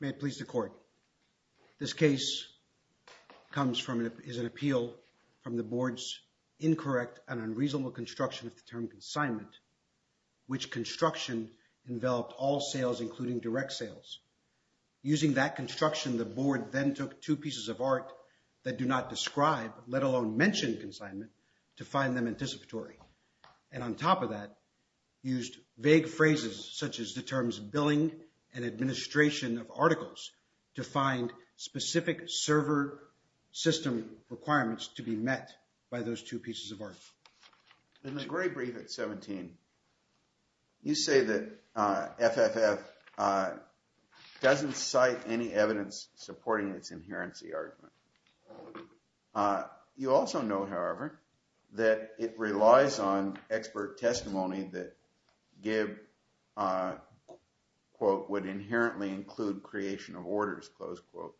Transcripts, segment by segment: May it please the Court, this case is an appeal from the Board's incorrect and unreasonable construction of the term consignment, which construction enveloped all sales including direct sales. Using that construction, the Board then took two pieces of art that do not describe, let alone mention consignment to find them anticipatory. And on top of that, used vague phrases such as the terms billing and administration of by those two pieces of art. In the very brief at 17, you say that FFF doesn't cite any evidence supporting its inherency argument. You also note, however, that it relies on expert testimony that give, quote, would inherently include creation of orders, close quote.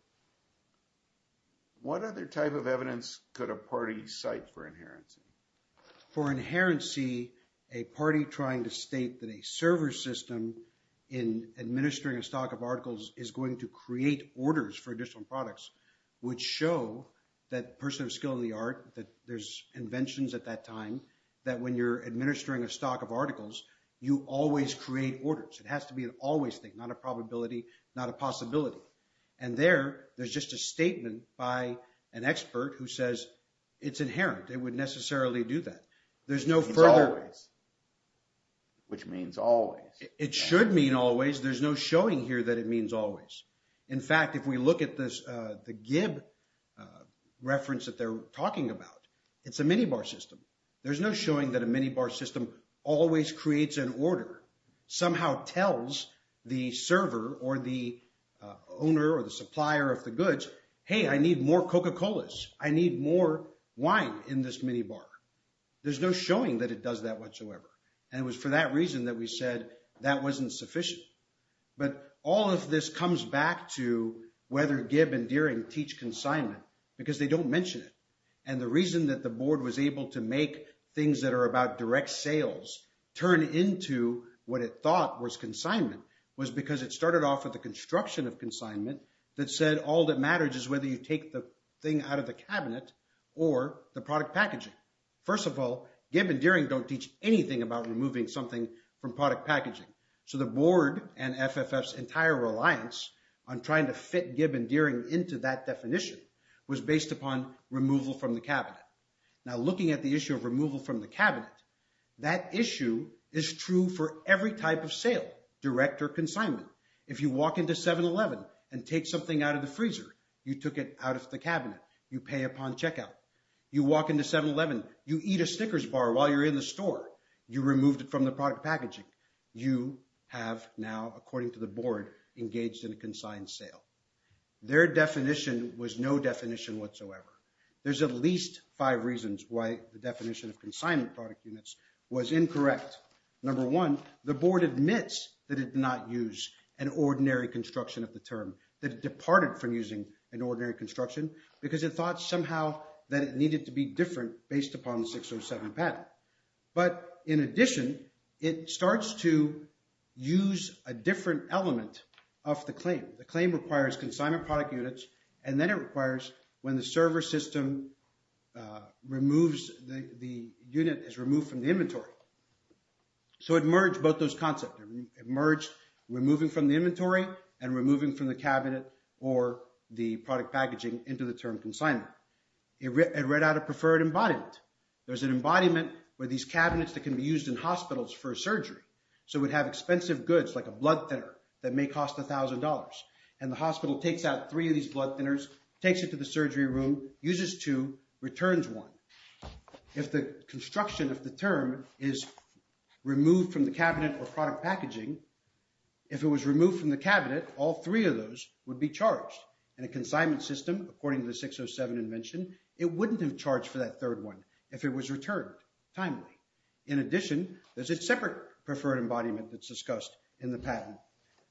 What other type of evidence could a party cite for inherency? For inherency, a party trying to state that a server system in administering a stock of articles is going to create orders for additional products would show that person of skill in the art, that there's inventions at that time, that when you're administering a stock of articles, you always create orders. It has to be an always thing, not a probability, not a possibility. And there, there's just a statement by an expert who says, it's inherent, it would necessarily do that. There's no further- It's always, which means always. It should mean always. There's no showing here that it means always. In fact, if we look at this, the GIB reference that they're talking about, it's a minibar system. There's no showing that a minibar system always creates an order, somehow tells the server or the owner or the supplier of the goods, hey, I need more Coca-Colas. I need more wine in this minibar. There's no showing that it does that whatsoever. And it was for that reason that we said that wasn't sufficient. But all of this comes back to whether GIB and Deering teach consignment, because they don't mention it. And the reason that the board was able to make things that are about direct sales turn into what it thought was consignment was because it started off with the construction of consignment that said all that matters is whether you take the thing out of the cabinet or the product packaging. First of all, GIB and Deering don't teach anything about removing something from product packaging. So the board and FFF's entire reliance on trying to fit GIB and Deering into that definition was based upon removal from the cabinet. Now looking at the issue of removal from the cabinet, that issue is true for every type of sale, direct or consignment. If you walk into 7-Eleven and take something out of the freezer, you took it out of the cabinet. You pay upon checkout. You walk into 7-Eleven, you eat a Snickers bar while you're in the store. You removed it from the product packaging. You have now, according to the board, engaged in a consigned sale. Their definition was no definition whatsoever. There's at least five reasons why the definition of consignment product units was incorrect. Number one, the board admits that it did not use an ordinary construction of the term, that it departed from using an ordinary construction because it thought somehow that it needed to be different based upon the 607 pattern. But in addition, it starts to use a different element of the claim. The claim requires consignment product units and then it requires when the server system removes the unit, is removed from the inventory. So it merged both those concepts. It merged removing from the inventory and removing from the cabinet or the product packaging into the term consignment. It read out a preferred embodiment. There's an embodiment where these cabinets that can be used in hospitals for surgery. So we'd have expensive goods like a blood thinner that may cost $1,000 and the hospital takes out three of these blood thinners, takes it to the surgery room, uses two, returns one. If the construction of the term is removed from the cabinet or product packaging, if it was removed from the cabinet, all three of those would be charged. In a consignment system, according to the 607 invention, it wouldn't have charged for that third one if it was returned timely. In addition, there's a separate preferred embodiment that's discussed in the patent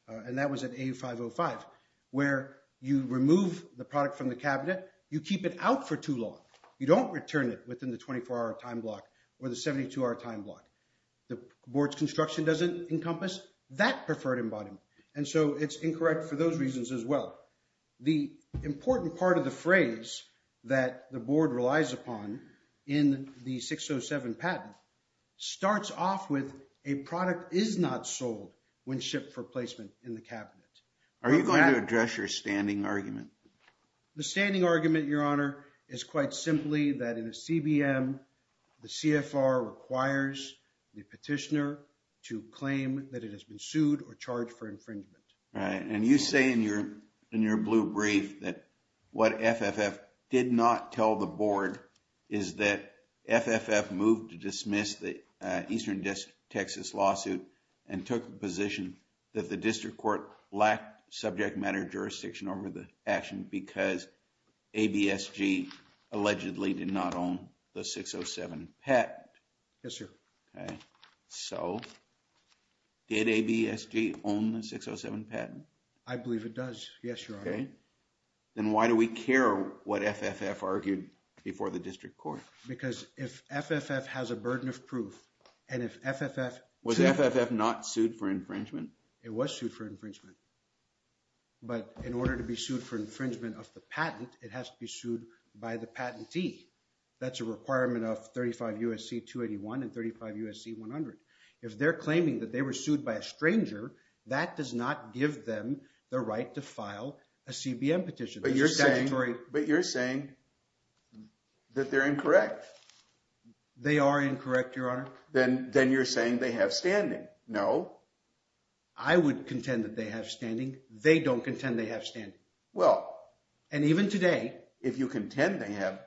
and that was at A505 where you remove the product from the cabinet. You keep it out for too long. You don't return it within the 24 hour time block or the 72 hour time block. The board's construction doesn't encompass that preferred embodiment. And so it's incorrect for those reasons as well. The important part of the phrase that the board relies upon in the 607 patent starts off with a product is not sold when shipped for placement in the cabinet. Are you going to address your standing argument? The standing argument, your honor, is quite simply that in a CBM, the CFR requires the petitioner to claim that it has been sued or charged for infringement. Right. And you say in your blue brief that what FFF did not tell the board is that FFF moved to dismiss the Eastern Texas lawsuit and took the position that the district court lacked subject matter jurisdiction over the action because ABSG allegedly did not own the 607 patent. Yes, sir. Okay. So, did ABSG own the 607 patent? I believe it does. Yes, your honor. Okay. Then why do we care what FFF argued before the district court? Because if FFF has a burden of proof and if FFF... Was FFF not sued for infringement? It was sued for infringement. But in order to be sued for infringement of the patent, it has to be sued by the patentee. That's a requirement of 35 U.S.C. 281 and 35 U.S.C. 100. If they're claiming that they were sued by a stranger, that does not give them the right to file a CBM petition. But you're saying that they're incorrect. They are incorrect, your honor. Then you're saying they have standing. No. I would contend that they have standing. They don't contend they have standing. Well... And even today... If you contend they have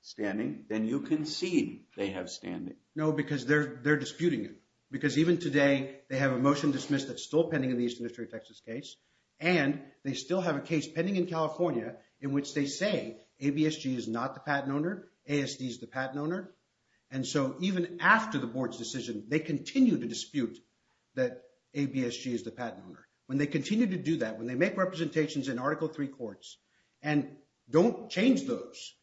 standing, then you concede they have standing. No, because they're disputing it. Because even today, they have a motion dismissed that's still pending in the Eastern District of Texas case, and they still have a case pending in California in which they say ABSG is not the patent owner, ASD is the patent owner. And so even after the board's decision, they continue to dispute that ABSG is the patent owner. When they continue to do that, when they make representations in Article III courts and don't change those,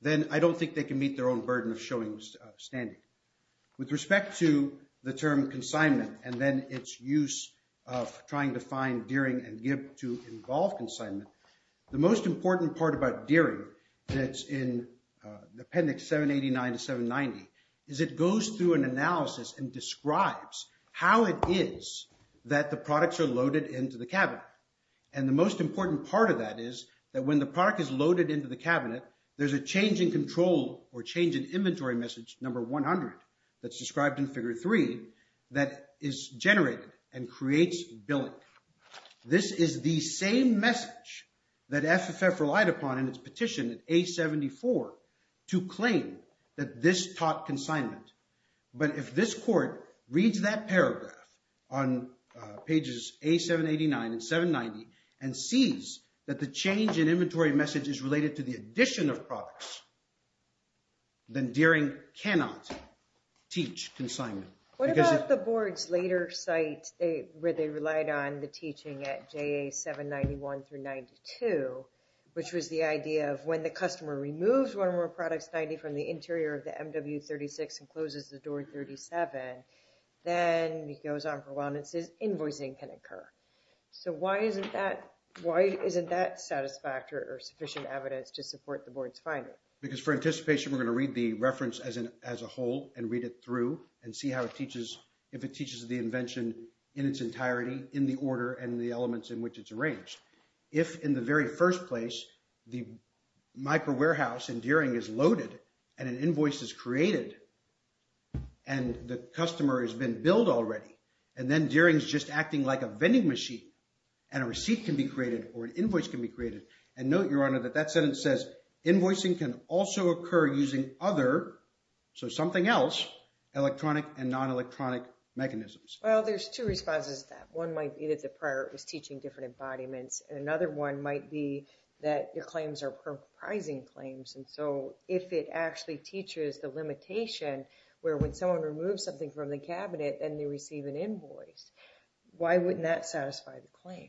then I don't think they can meet their own burden of showing standing. With respect to the term consignment and then its use of trying to find dearing and give to involve consignment, the most important part about dearing that's in the Appendix 789 to 790 is it goes through an analysis and describes how it is that the products are loaded into the cabinet. And the most important part of that is that when the product is loaded into the cabinet, there's a change in control or change in inventory message, number 100, that's described in Figure 3 that is generated and creates billing. This is the same message that FFF relied upon in its petition at A-74 to claim that this taught consignment. But if this court reads that paragraph on pages A-789 and 790 and sees that the change in inventory message is related to the addition of products, then dearing cannot teach consignment. What about the board's later site where they relied on the teaching at JA-791 through 92, which was the idea of when the customer removes one or more products, 90, from the interior of the MW-36 and closes the door 37, then he goes on for wellnesses, invoicing can occur. So why isn't that satisfactory or sufficient evidence to support the board's finding? Because for anticipation, we're going to read the reference as a whole and read it through and see how it teaches, if it teaches the invention in its entirety, in the order, and the elements in which it's arranged. If in the very first place, the micro-warehouse in Deering is loaded and an invoice is created and the customer has been billed already, and then Deering's just acting like a vending machine and a receipt can be created or an invoice can be created. And note, Your Honor, that that sentence says, invoicing can also occur using other, so something else, electronic and non-electronic mechanisms. Well, there's two responses to that. One might be that the prior was teaching different embodiments, and another one might be that your claims are perprising claims. And so if it actually teaches the limitation where when someone removes something from the cabinet and they receive an invoice, why wouldn't that satisfy the claim?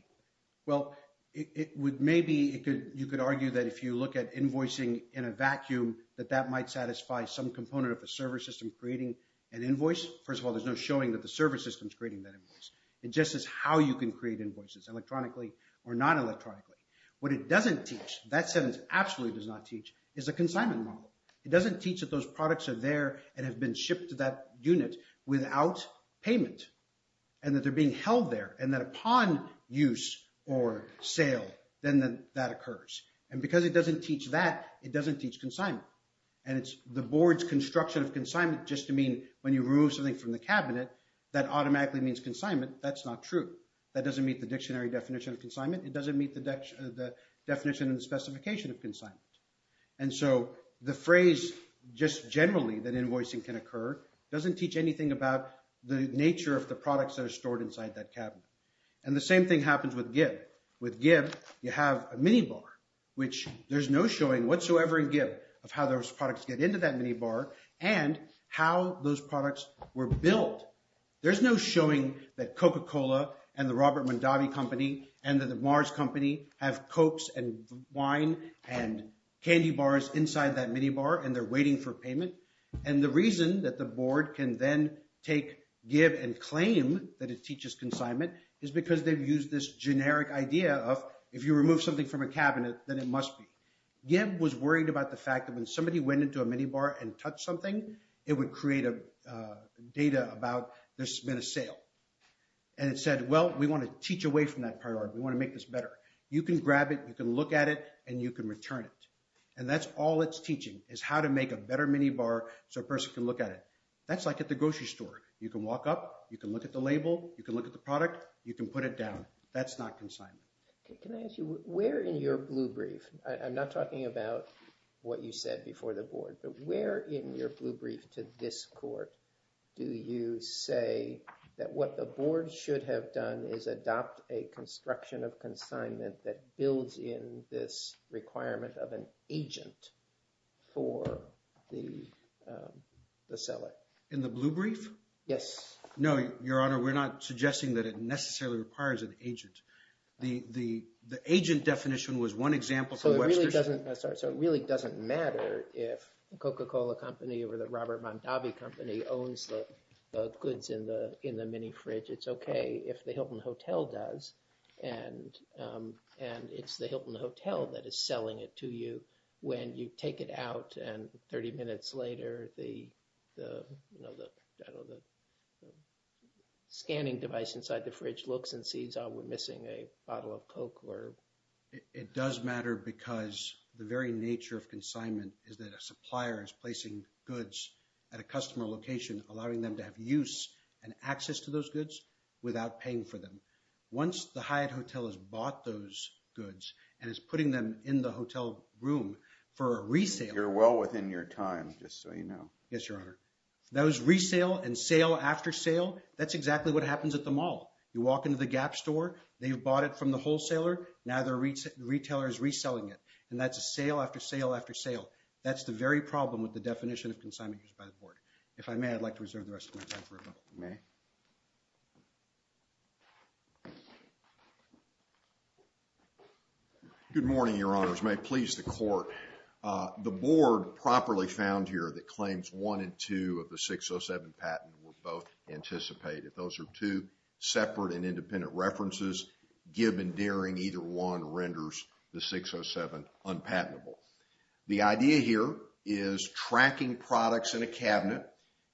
Well, it would maybe, you could argue that if you look at invoicing in a vacuum, that that might satisfy some component of the server system creating an invoice. First of all, there's no showing that the server system's creating that invoice. It just is how you can create invoices, electronically or non-electronically. What it doesn't teach, that sentence absolutely does not teach, is a consignment model. It doesn't teach that those products are there and have been shipped to that unit without payment and that they're being held there and that upon use or sale, then that occurs. And because it doesn't teach that, it doesn't teach consignment. And it's the board's construction of consignment just to mean when you remove something from the cabinet, that automatically means consignment. That's not true. That doesn't meet the dictionary definition of consignment. It doesn't meet the definition and the specification of consignment. And so the phrase just generally that invoicing can occur doesn't teach anything about the nature of the products that are stored inside that cabinet. And the same thing happens with GIB. With GIB, you have a minibar, which there's no showing whatsoever in GIB of how those products were built. There's no showing that Coca-Cola and the Robert Mondavi Company and the Mars Company have Cokes and wine and candy bars inside that minibar and they're waiting for payment. And the reason that the board can then take GIB and claim that it teaches consignment is because they've used this generic idea of if you remove something from a cabinet, then it must be. GIB was worried about the fact that when somebody went into a minibar and touched something, it would create a data about there's been a sale and it said, well, we want to teach away from that priority. We want to make this better. You can grab it. You can look at it and you can return it. And that's all it's teaching is how to make a better minibar so a person can look at it. That's like at the grocery store. You can walk up. You can look at the label. You can look at the product. You can put it down. That's not consignment. Can I ask you, where in your blue brief, I'm not talking about what you said before the blue brief to this court, do you say that what the board should have done is adopt a construction of consignment that builds in this requirement of an agent for the seller? In the blue brief? Yes. No, Your Honor. We're not suggesting that it necessarily requires an agent. The agent definition was one example for the Webster's. So it really doesn't matter if Coca-Cola Company or the Robert Mondavi Company owns the goods in the mini-fridge. It's okay if the Hilton Hotel does, and it's the Hilton Hotel that is selling it to you when you take it out and 30 minutes later, the scanning device inside the fridge looks and sees, oh, we're missing a bottle of Coke. It does matter because the very nature of consignment is that a supplier is placing goods at a customer location, allowing them to have use and access to those goods without paying for them. Once the Hyatt Hotel has bought those goods and is putting them in the hotel room for a resale- You're well within your time, just so you know. Yes, Your Honor. That was resale and sale after sale. That's exactly what happens at the mall. You walk into the Gap store, they've bought it from the wholesaler, now the retailer is reselling it. And that's a sale after sale after sale. That's the very problem with the definition of consignment used by the Board. If I may, I'd like to reserve the rest of my time for a moment. You may. Good morning, Your Honors. May it please the Court. The Board properly found here that claims one and two of the 607 patent were both anticipated. If those are two separate and independent references, give and daring either one renders the 607 unpatentable. The idea here is tracking products in a cabinet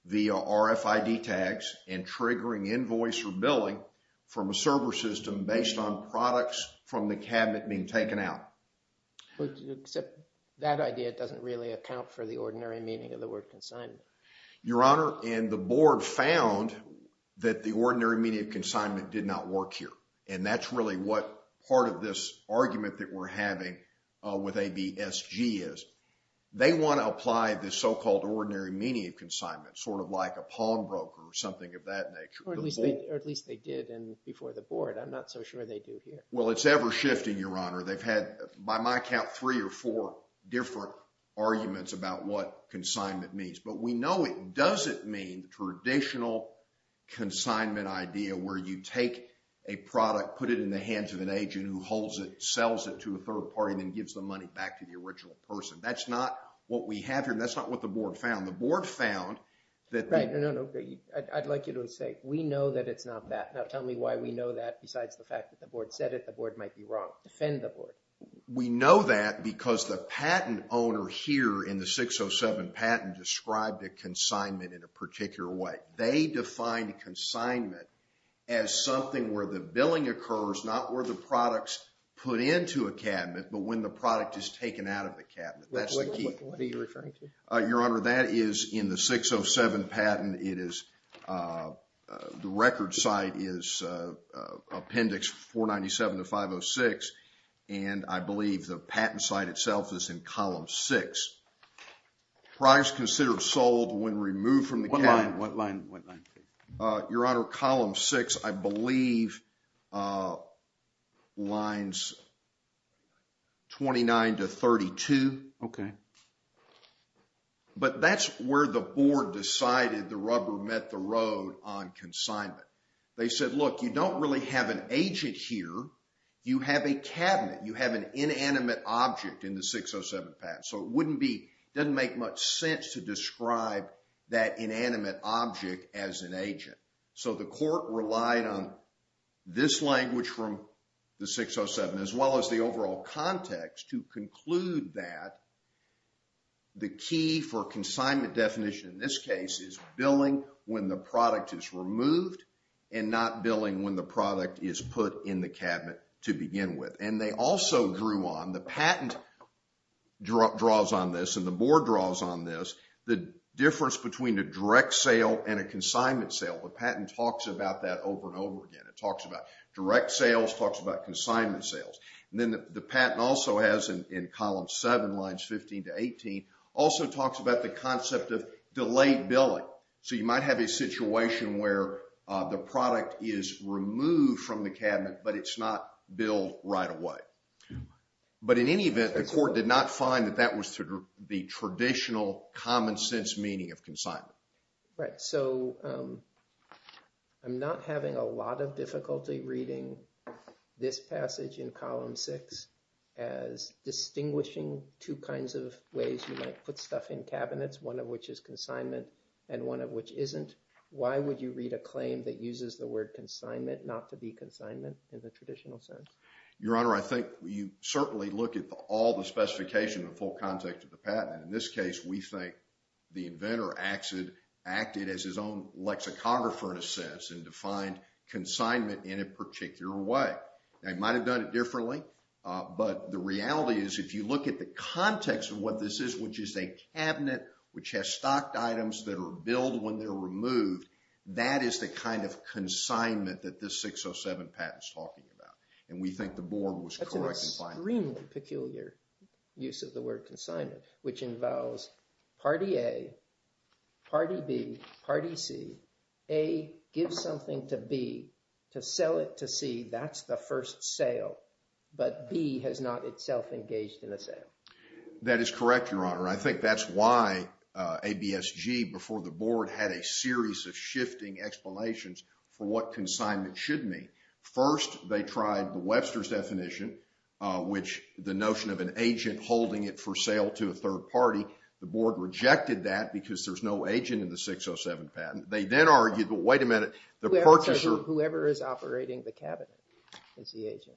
via RFID tags and triggering invoice or billing from a server system based on products from the cabinet being taken out. Except that idea doesn't really account for the ordinary meaning of the word consignment. Your Honor, and the Board found that the ordinary meaning of consignment did not work here. And that's really what part of this argument that we're having with ABSG is. They want to apply this so-called ordinary meaning of consignment, sort of like a pawn broker or something of that nature. Or at least they did before the Board. I'm not so sure they do here. Well, it's ever shifting, Your Honor. They've had, by my count, three or four different arguments about what consignment means. But we know it doesn't mean the traditional consignment idea where you take a product, put it in the hands of an agent who holds it, sells it to a third party, and then gives the money back to the original person. That's not what we have here. That's not what the Board found. The Board found that the- Right. No, no, no. I'd like you to say, we know that it's not that. Now, tell me why we know that besides the fact that the Board said it, the Board might be wrong. Defend the Board. We know that because the patent owner here in the 607 patent described a consignment in a particular way. They defined consignment as something where the billing occurs, not where the product's put into a cabinet, but when the product is taken out of the cabinet. That's the key. What are you referring to? Your Honor, that is in the 607 patent. It is, the record site is Appendix 497 to 506, and I believe the patent site itself is in Column 6. Price considered sold when removed from the cabinet- What line? What line? What line, please? Your Honor, Column 6, I believe, lines 29 to 32, but that's where the Board decided the rubber met the road on consignment. They said, look, you don't really have an agent here. You have a cabinet. You have an inanimate object in the 607 patent, so it wouldn't be, doesn't make much sense to describe that inanimate object as an agent. So the Court relied on this language from the 607, as well as the overall context to billing when the product is removed and not billing when the product is put in the cabinet to begin with. And they also drew on, the patent draws on this and the Board draws on this, the difference between a direct sale and a consignment sale. The patent talks about that over and over again. It talks about direct sales, talks about consignment sales. And then the patent also has, in Column 7 lines 15 to 18, also talks about the concept of delayed billing. So you might have a situation where the product is removed from the cabinet, but it's not billed right away. But in any event, the Court did not find that that was the traditional common sense meaning of consignment. Right. So I'm not having a lot of difficulty reading this passage in Column 6 as distinguishing two kinds of ways you might put stuff in cabinets, one of which is consignment and one of which isn't. Why would you read a claim that uses the word consignment not to be consignment in the traditional sense? Your Honor, I think you certainly look at all the specification in full context of the patent. In this case, we think the inventor acted as his own lexicographer in a sense and defined consignment in a particular way. Right. They might have done it differently, but the reality is if you look at the context of what this is, which is a cabinet which has stocked items that are billed when they're removed, that is the kind of consignment that this 607 patent is talking about. And we think the Board was correct in finding that. That's an extremely peculiar use of the word consignment, which involves Party A, Party B, Party C. A gives something to B. To sell it to C, that's the first sale. But B has not itself engaged in a sale. That is correct, Your Honor. I think that's why ABSG before the Board had a series of shifting explanations for what consignment should mean. First, they tried the Webster's definition, which the notion of an agent holding it for sale to a third party. The Board rejected that because there's no agent in the 607 patent. They then argued, well, wait a minute, the purchaser... Whoever is operating the cabinet is the agent.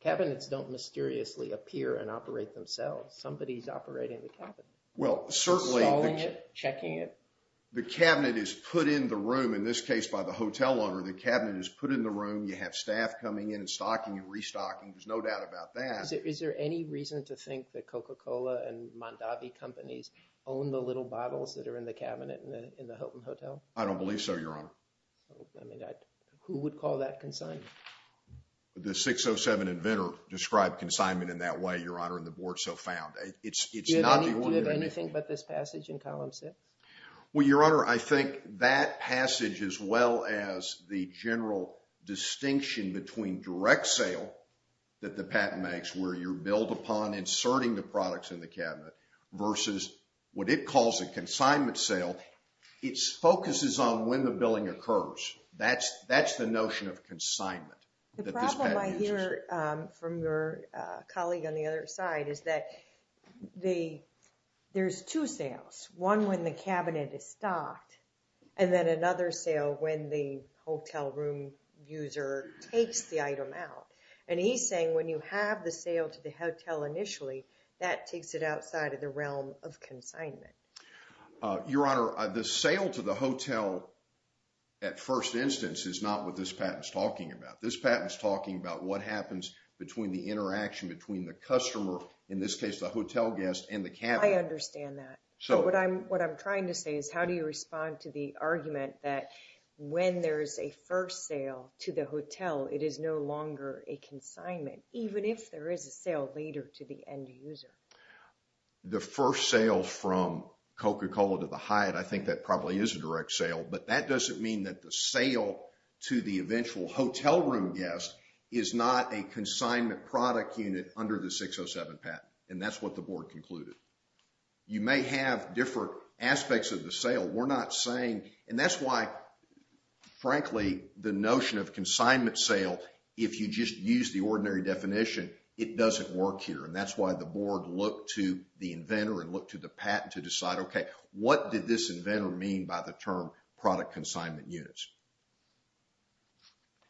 Cabinets don't mysteriously appear and operate themselves. Somebody's operating the cabinet. Well, certainly... Stalling it, checking it. The cabinet is put in the room, in this case by the hotel owner. The cabinet is put in the room. You have staff coming in and stocking and restocking. There's no doubt about that. Is there any reason to think that Coca-Cola and Mondavi companies own the little bottles that are in the cabinet in the Hilton Hotel? I don't believe so, Your Honor. Who would call that consignment? The 607 inventor described consignment in that way, Your Honor, and the Board so found. Do you have anything but this passage in column six? Well, Your Honor, I think that passage as well as the general distinction between direct sale that the patent makes where you're billed upon inserting the products in the cabinet versus what it calls a consignment sale, it focuses on when the billing occurs. That's the notion of consignment that this patent uses. The problem I hear from your colleague on the other side is that there's two sales, one when the cabinet is stocked and then another sale when the hotel room user takes the item out. He's saying when you have the sale to the hotel initially, that takes it outside of the realm of consignment. Your Honor, the sale to the hotel at first instance is not what this patent's talking about. This patent's talking about what happens between the interaction between the customer, in this case the hotel guest, and the cabinet. I understand that, but what I'm trying to say is how do you respond to the argument that when there's a first sale to the hotel, it is no longer a consignment, even if there is a sale later to the end user? The first sale from Coca-Cola to the Hyatt, I think that probably is a direct sale, but that doesn't mean that the sale to the eventual hotel room guest is not a consignment product unit under the 607 patent, and that's what the board concluded. You may have different aspects of the sale. We're not saying, and that's why, frankly, the notion of consignment sale, if you just use the ordinary definition, it doesn't work here, and that's why the board looked to the inventor and looked to the patent to decide, okay, what did this inventor mean by the term product consignment units?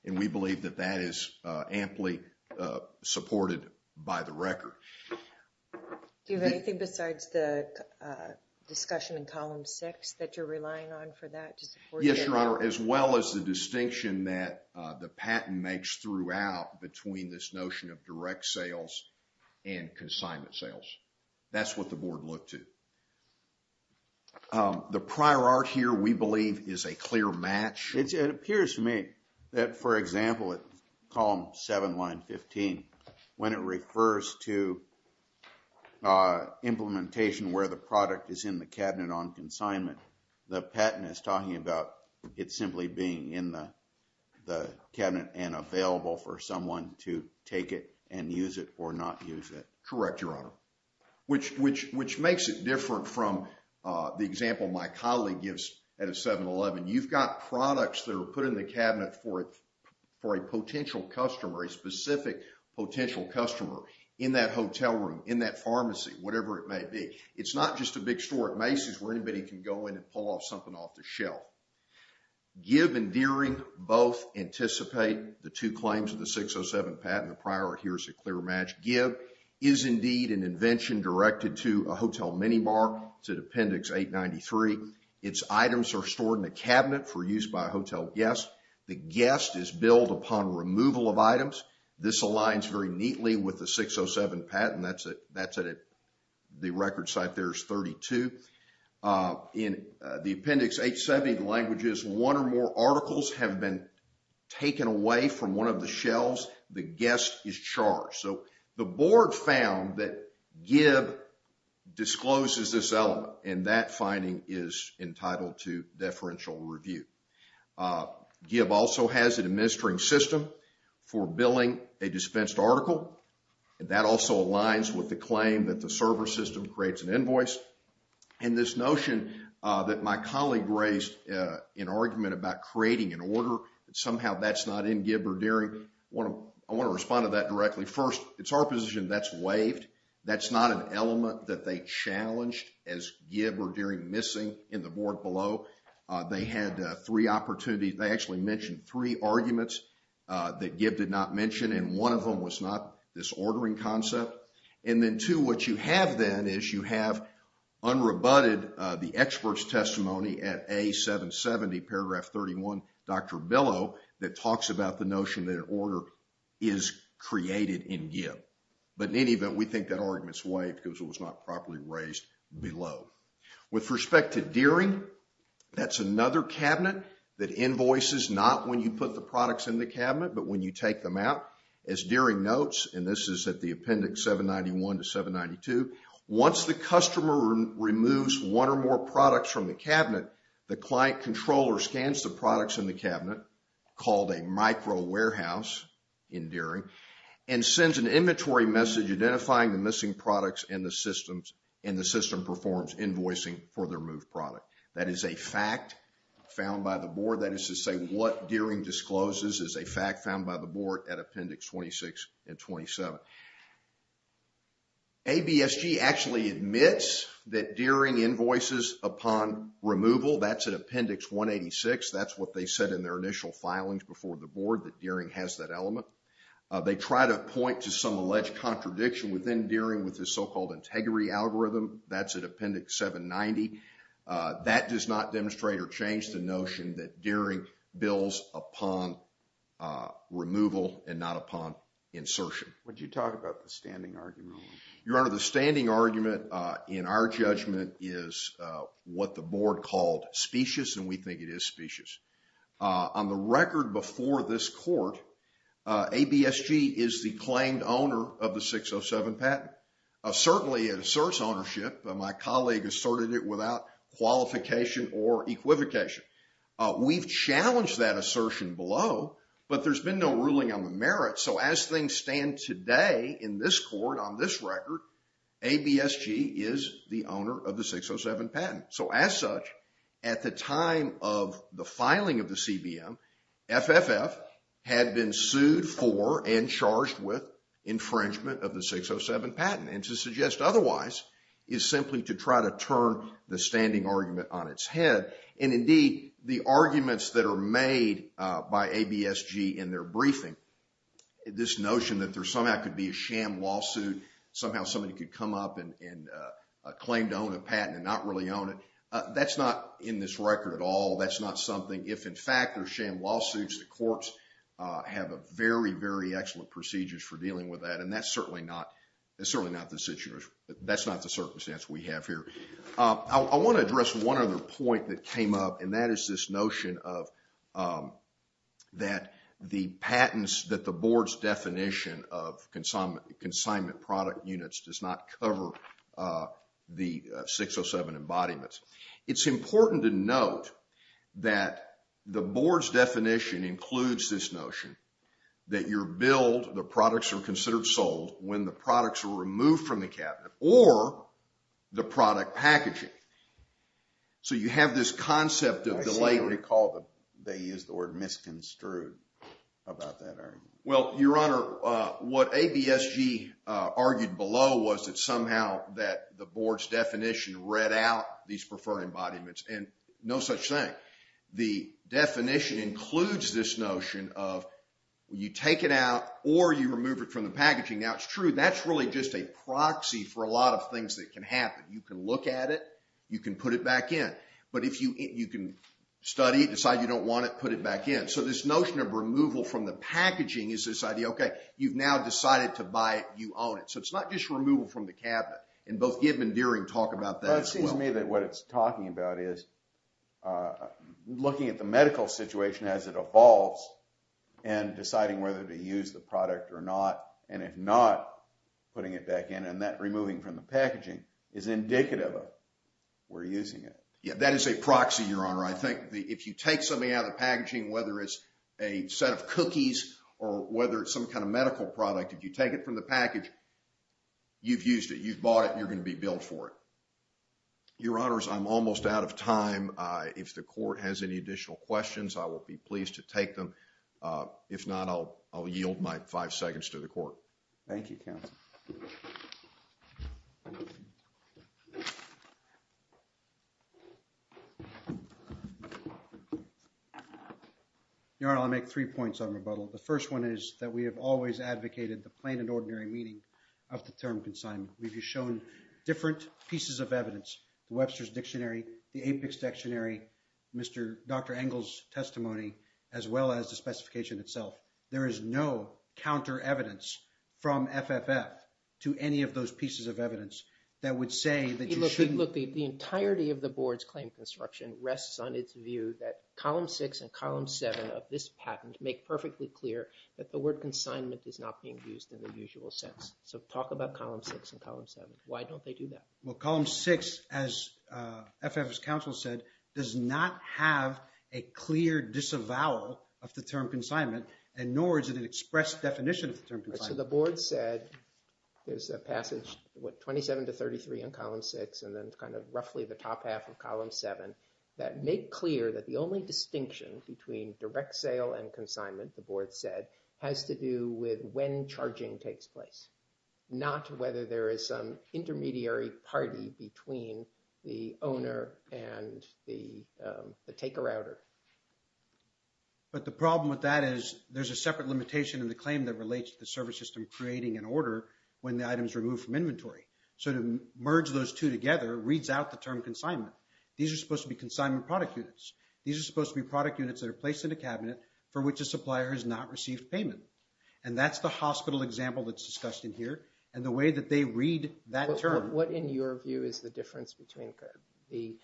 We believe that that is amply supported by the record. Do you have anything besides the discussion in column six that you're relying on for that? Yes, your honor, as well as the distinction that the patent makes throughout between this notion of direct sales and consignment sales. That's what the board looked to. The prior art here, we believe, is a clear match. It appears to me that, for example, at column seven, line 15, when it refers to implementation where the product is in the cabinet on consignment, the patent is talking about it simply being in the cabinet and available for someone to take it and use it or not use it. Correct, your honor, which makes it different from the example my colleague gives at a 711. You've got products that are put in the cabinet for a potential customer, a specific potential customer in that hotel room, in that pharmacy, whatever it may be. It's not just a big store at Macy's where anybody can go in and pull off something off the shelf. Give and Deering both anticipate the two claims of the 607 patent. The prior art here is a clear match. Give is indeed an invention directed to a hotel minibar, it's at appendix 893. Its items are stored in a cabinet for use by a hotel guest. The guest is billed upon removal of items. This aligns very neatly with the 607 patent, that's at the record site there is 32. In the appendix 870, the language is one or more articles have been taken away from one of the shelves, the guest is charged. The board found that Give discloses this element and that finding is entitled to deferential review. Give also has an administering system for billing a dispensed article. That also aligns with the claim that the server system creates an invoice. This notion that my colleague raised in argument about creating an order and somehow that's not in Give or Deering, I want to respond to that directly. First, it's our position that's waived. That's not an element that they challenged as Give or Deering missing in the board below. They had three opportunities, they actually mentioned three arguments that Give did not mention and one of them was not this ordering concept. And then two, what you have then is you have unrebutted the expert's testimony at A770 paragraph 31, Dr. Billow, that talks about the notion that an order is created in Give. But in any event, we think that argument's waived because it was not properly raised below. With respect to Deering, that's another cabinet that invoices not when you put the products in the cabinet, but when you take them out. As Deering notes, and this is at the appendix 791 to 792, once the customer removes one or more products from the cabinet, the client controller scans the products in the cabinet called a micro-warehouse in Deering and sends an inventory message identifying the missing products in the system and the system performs invoicing for the removed product. That is a fact found by the board, that is to say what Deering discloses is a fact found by the board at appendix 26 and 27. ABSG actually admits that Deering invoices upon removal. That's at appendix 186. That's what they said in their initial filings before the board, that Deering has that element. They try to point to some alleged contradiction within Deering with this so-called integrity algorithm. That's at appendix 790. That does not demonstrate or change the notion that Deering bills upon removal and not upon insertion. Would you talk about the standing argument? Your Honor, the standing argument in our judgment is what the board called specious and we think it is specious. On the record before this court, ABSG is the claimed owner of the 607 patent. Certainly it asserts ownership. My colleague asserted it without qualification or equivocation. We've challenged that assertion below, but there's been no ruling on the merit. So, as things stand today in this court on this record, ABSG is the owner of the 607 patent. So, as such, at the time of the filing of the CBM, FFF had been sued for and charged with infringement of the 607 patent and to suggest otherwise is simply to try to turn the standing argument on its head and indeed the arguments that are made by ABSG in their this notion that there somehow could be a sham lawsuit. Somehow somebody could come up and claim to own a patent and not really own it. That's not in this record at all. That's not something if in fact there's sham lawsuits, the courts have a very, very excellent procedures for dealing with that and that's certainly not the situation. That's not the circumstance we have here. I want to address one other point that came up and that is this notion of that the patents that the board's definition of consignment product units does not cover the 607 embodiments. It's important to note that the board's definition includes this notion that you're billed the products are considered sold when the products are removed from the cabinet or the product packaging. So, you have this concept of delay. I recall that they used the word misconstrued about that argument. Well, your honor, what ABSG argued below was that somehow that the board's definition read out these preferred embodiments and no such thing. The definition includes this notion of you take it out or you remove it from the packaging. Now, it's true. That's really just a proxy for a lot of things that can happen. You can look at it. You can put it back in. But if you can study it, decide you don't want it, put it back in. So, this notion of removal from the packaging is this idea, okay, you've now decided to buy it. You own it. So, it's not just removal from the cabinet. And both Gibb and Deering talk about that as well. Well, it seems to me that what it's talking about is looking at the medical situation as it evolves and deciding whether to use the product or not. And if not, putting it back in and that removing from the packaging is indicative we're using it. Yeah. That is a proxy, Your Honor. I think if you take something out of the packaging, whether it's a set of cookies or whether it's some kind of medical product, if you take it from the package, you've used it, you've bought it, you're going to be billed for it. Your Honors, I'm almost out of time. If the court has any additional questions, I will be pleased to take them. Thank you, counsel. Your Honor, I'll make three points on rebuttal. The first one is that we have always advocated the plain and ordinary meaning of the term consignment. We've shown different pieces of evidence, the Webster's Dictionary, the APICS Dictionary, Dr. Engel's testimony, as well as the specification itself. There is no counter evidence from FFF to any of those pieces of evidence that would say that you shouldn't- The board's claim construction rests on its view that column six and column seven of this patent make perfectly clear that the word consignment is not being used in the usual sense. So talk about column six and column seven. Why don't they do that? Well, column six, as FFF's counsel said, does not have a clear disavowal of the term consignment, and nor is it an express definition of the term consignment. So the board said, there's a passage, what, 27 to 33 in column six, and then kind of roughly the top half of column seven, that make clear that the only distinction between direct sale and consignment, the board said, has to do with when charging takes place, not whether there is some intermediary party between the owner and the taker-outer. But the problem with that is there's a separate limitation in the claim that relates to the service system creating an order when the item is removed from inventory. So to merge those two together reads out the term consignment. These are supposed to be consignment product units. These are supposed to be product units that are placed in a cabinet for which a supplier has not received payment. And that's the hospital example that's discussed in here, and the way that they read that term. What in your view is the difference between the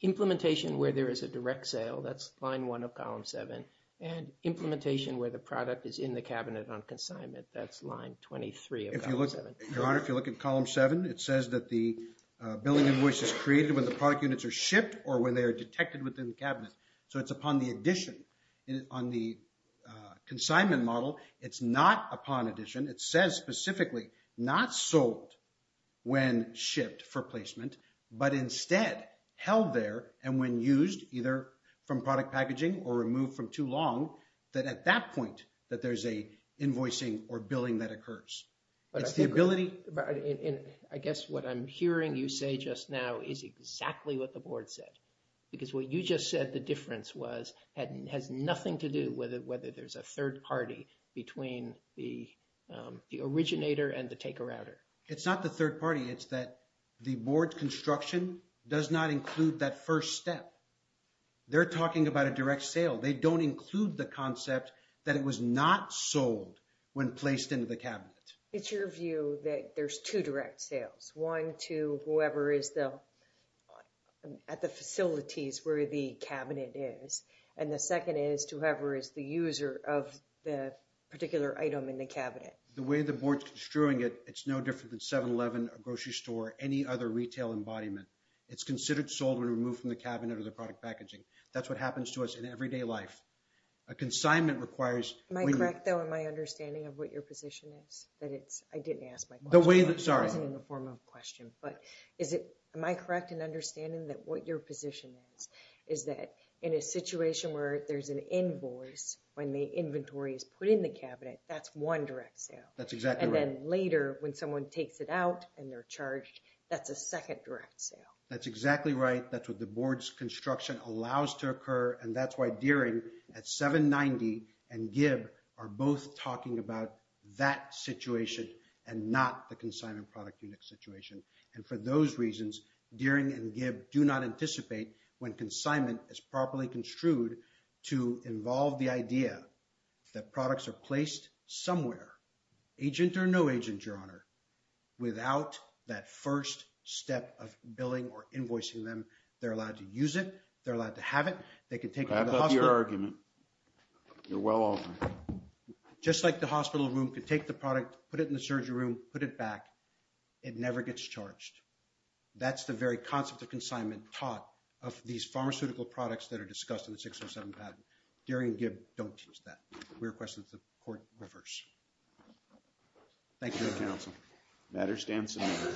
implementation where there is a direct sale, that's line one of column seven, and implementation where the product is in the cabinet on consignment, that's line 23 of column seven? Your Honor, if you look at column seven, it says that the billing invoice is created when the product units are shipped or when they are detected within the cabinet. So it's upon the addition. On the consignment model, it's not upon addition. It says specifically not sold when shipped for placement, but instead held there and when used either from product packaging or removed from too long, that at that point that there's an invoicing or billing that occurs. I guess what I'm hearing you say just now is exactly what the board said, because what you just said, the difference was, has nothing to do whether there's a third party between the originator and the taker router. It's not the third party. It's that the board construction does not include that first step. They're talking about a direct sale. They don't include the concept that it was not sold when placed into the cabinet. It's your view that there's two direct sales, one to whoever is at the facilities where the cabinet is, and the second is to whoever is the user of the particular item in the cabinet. The way the board's construing it, it's no different than 7-Eleven, a grocery store, any other retail embodiment. It's considered sold when removed from the cabinet or the product packaging. That's what happens to us in everyday life. A consignment requires... Am I correct, though, in my understanding of what your position is? That it's... I didn't ask my question. The way that... Sorry. It wasn't in the form of a question, but is it... Am I correct in understanding that what your position is, is that in a situation where there's an invoice when the inventory is put in the cabinet, that's one direct sale? That's exactly right. And then later when someone takes it out and they're charged, that's a second direct sale? That's exactly right. That's what the board's construction allows to occur, and that's why Deering at 790 and Gibb are both talking about that situation and not the consignment product unit situation. And for those reasons, Deering and Gibb do not anticipate when consignment is properly construed to involve the idea that products are placed somewhere, agent or no agent, Your They're allowed to use it. They're allowed to have it. They can take it to the hospital. I like your argument. You're well-off. Just like the hospital room could take the product, put it in the surgery room, put it back, it never gets charged. That's the very concept of consignment taught of these pharmaceutical products that are discussed in the 607 patent. Deering and Gibb don't teach that. We request that the court reverse. Thank you, Your Honor. Thank you, counsel. Matter stands submitted.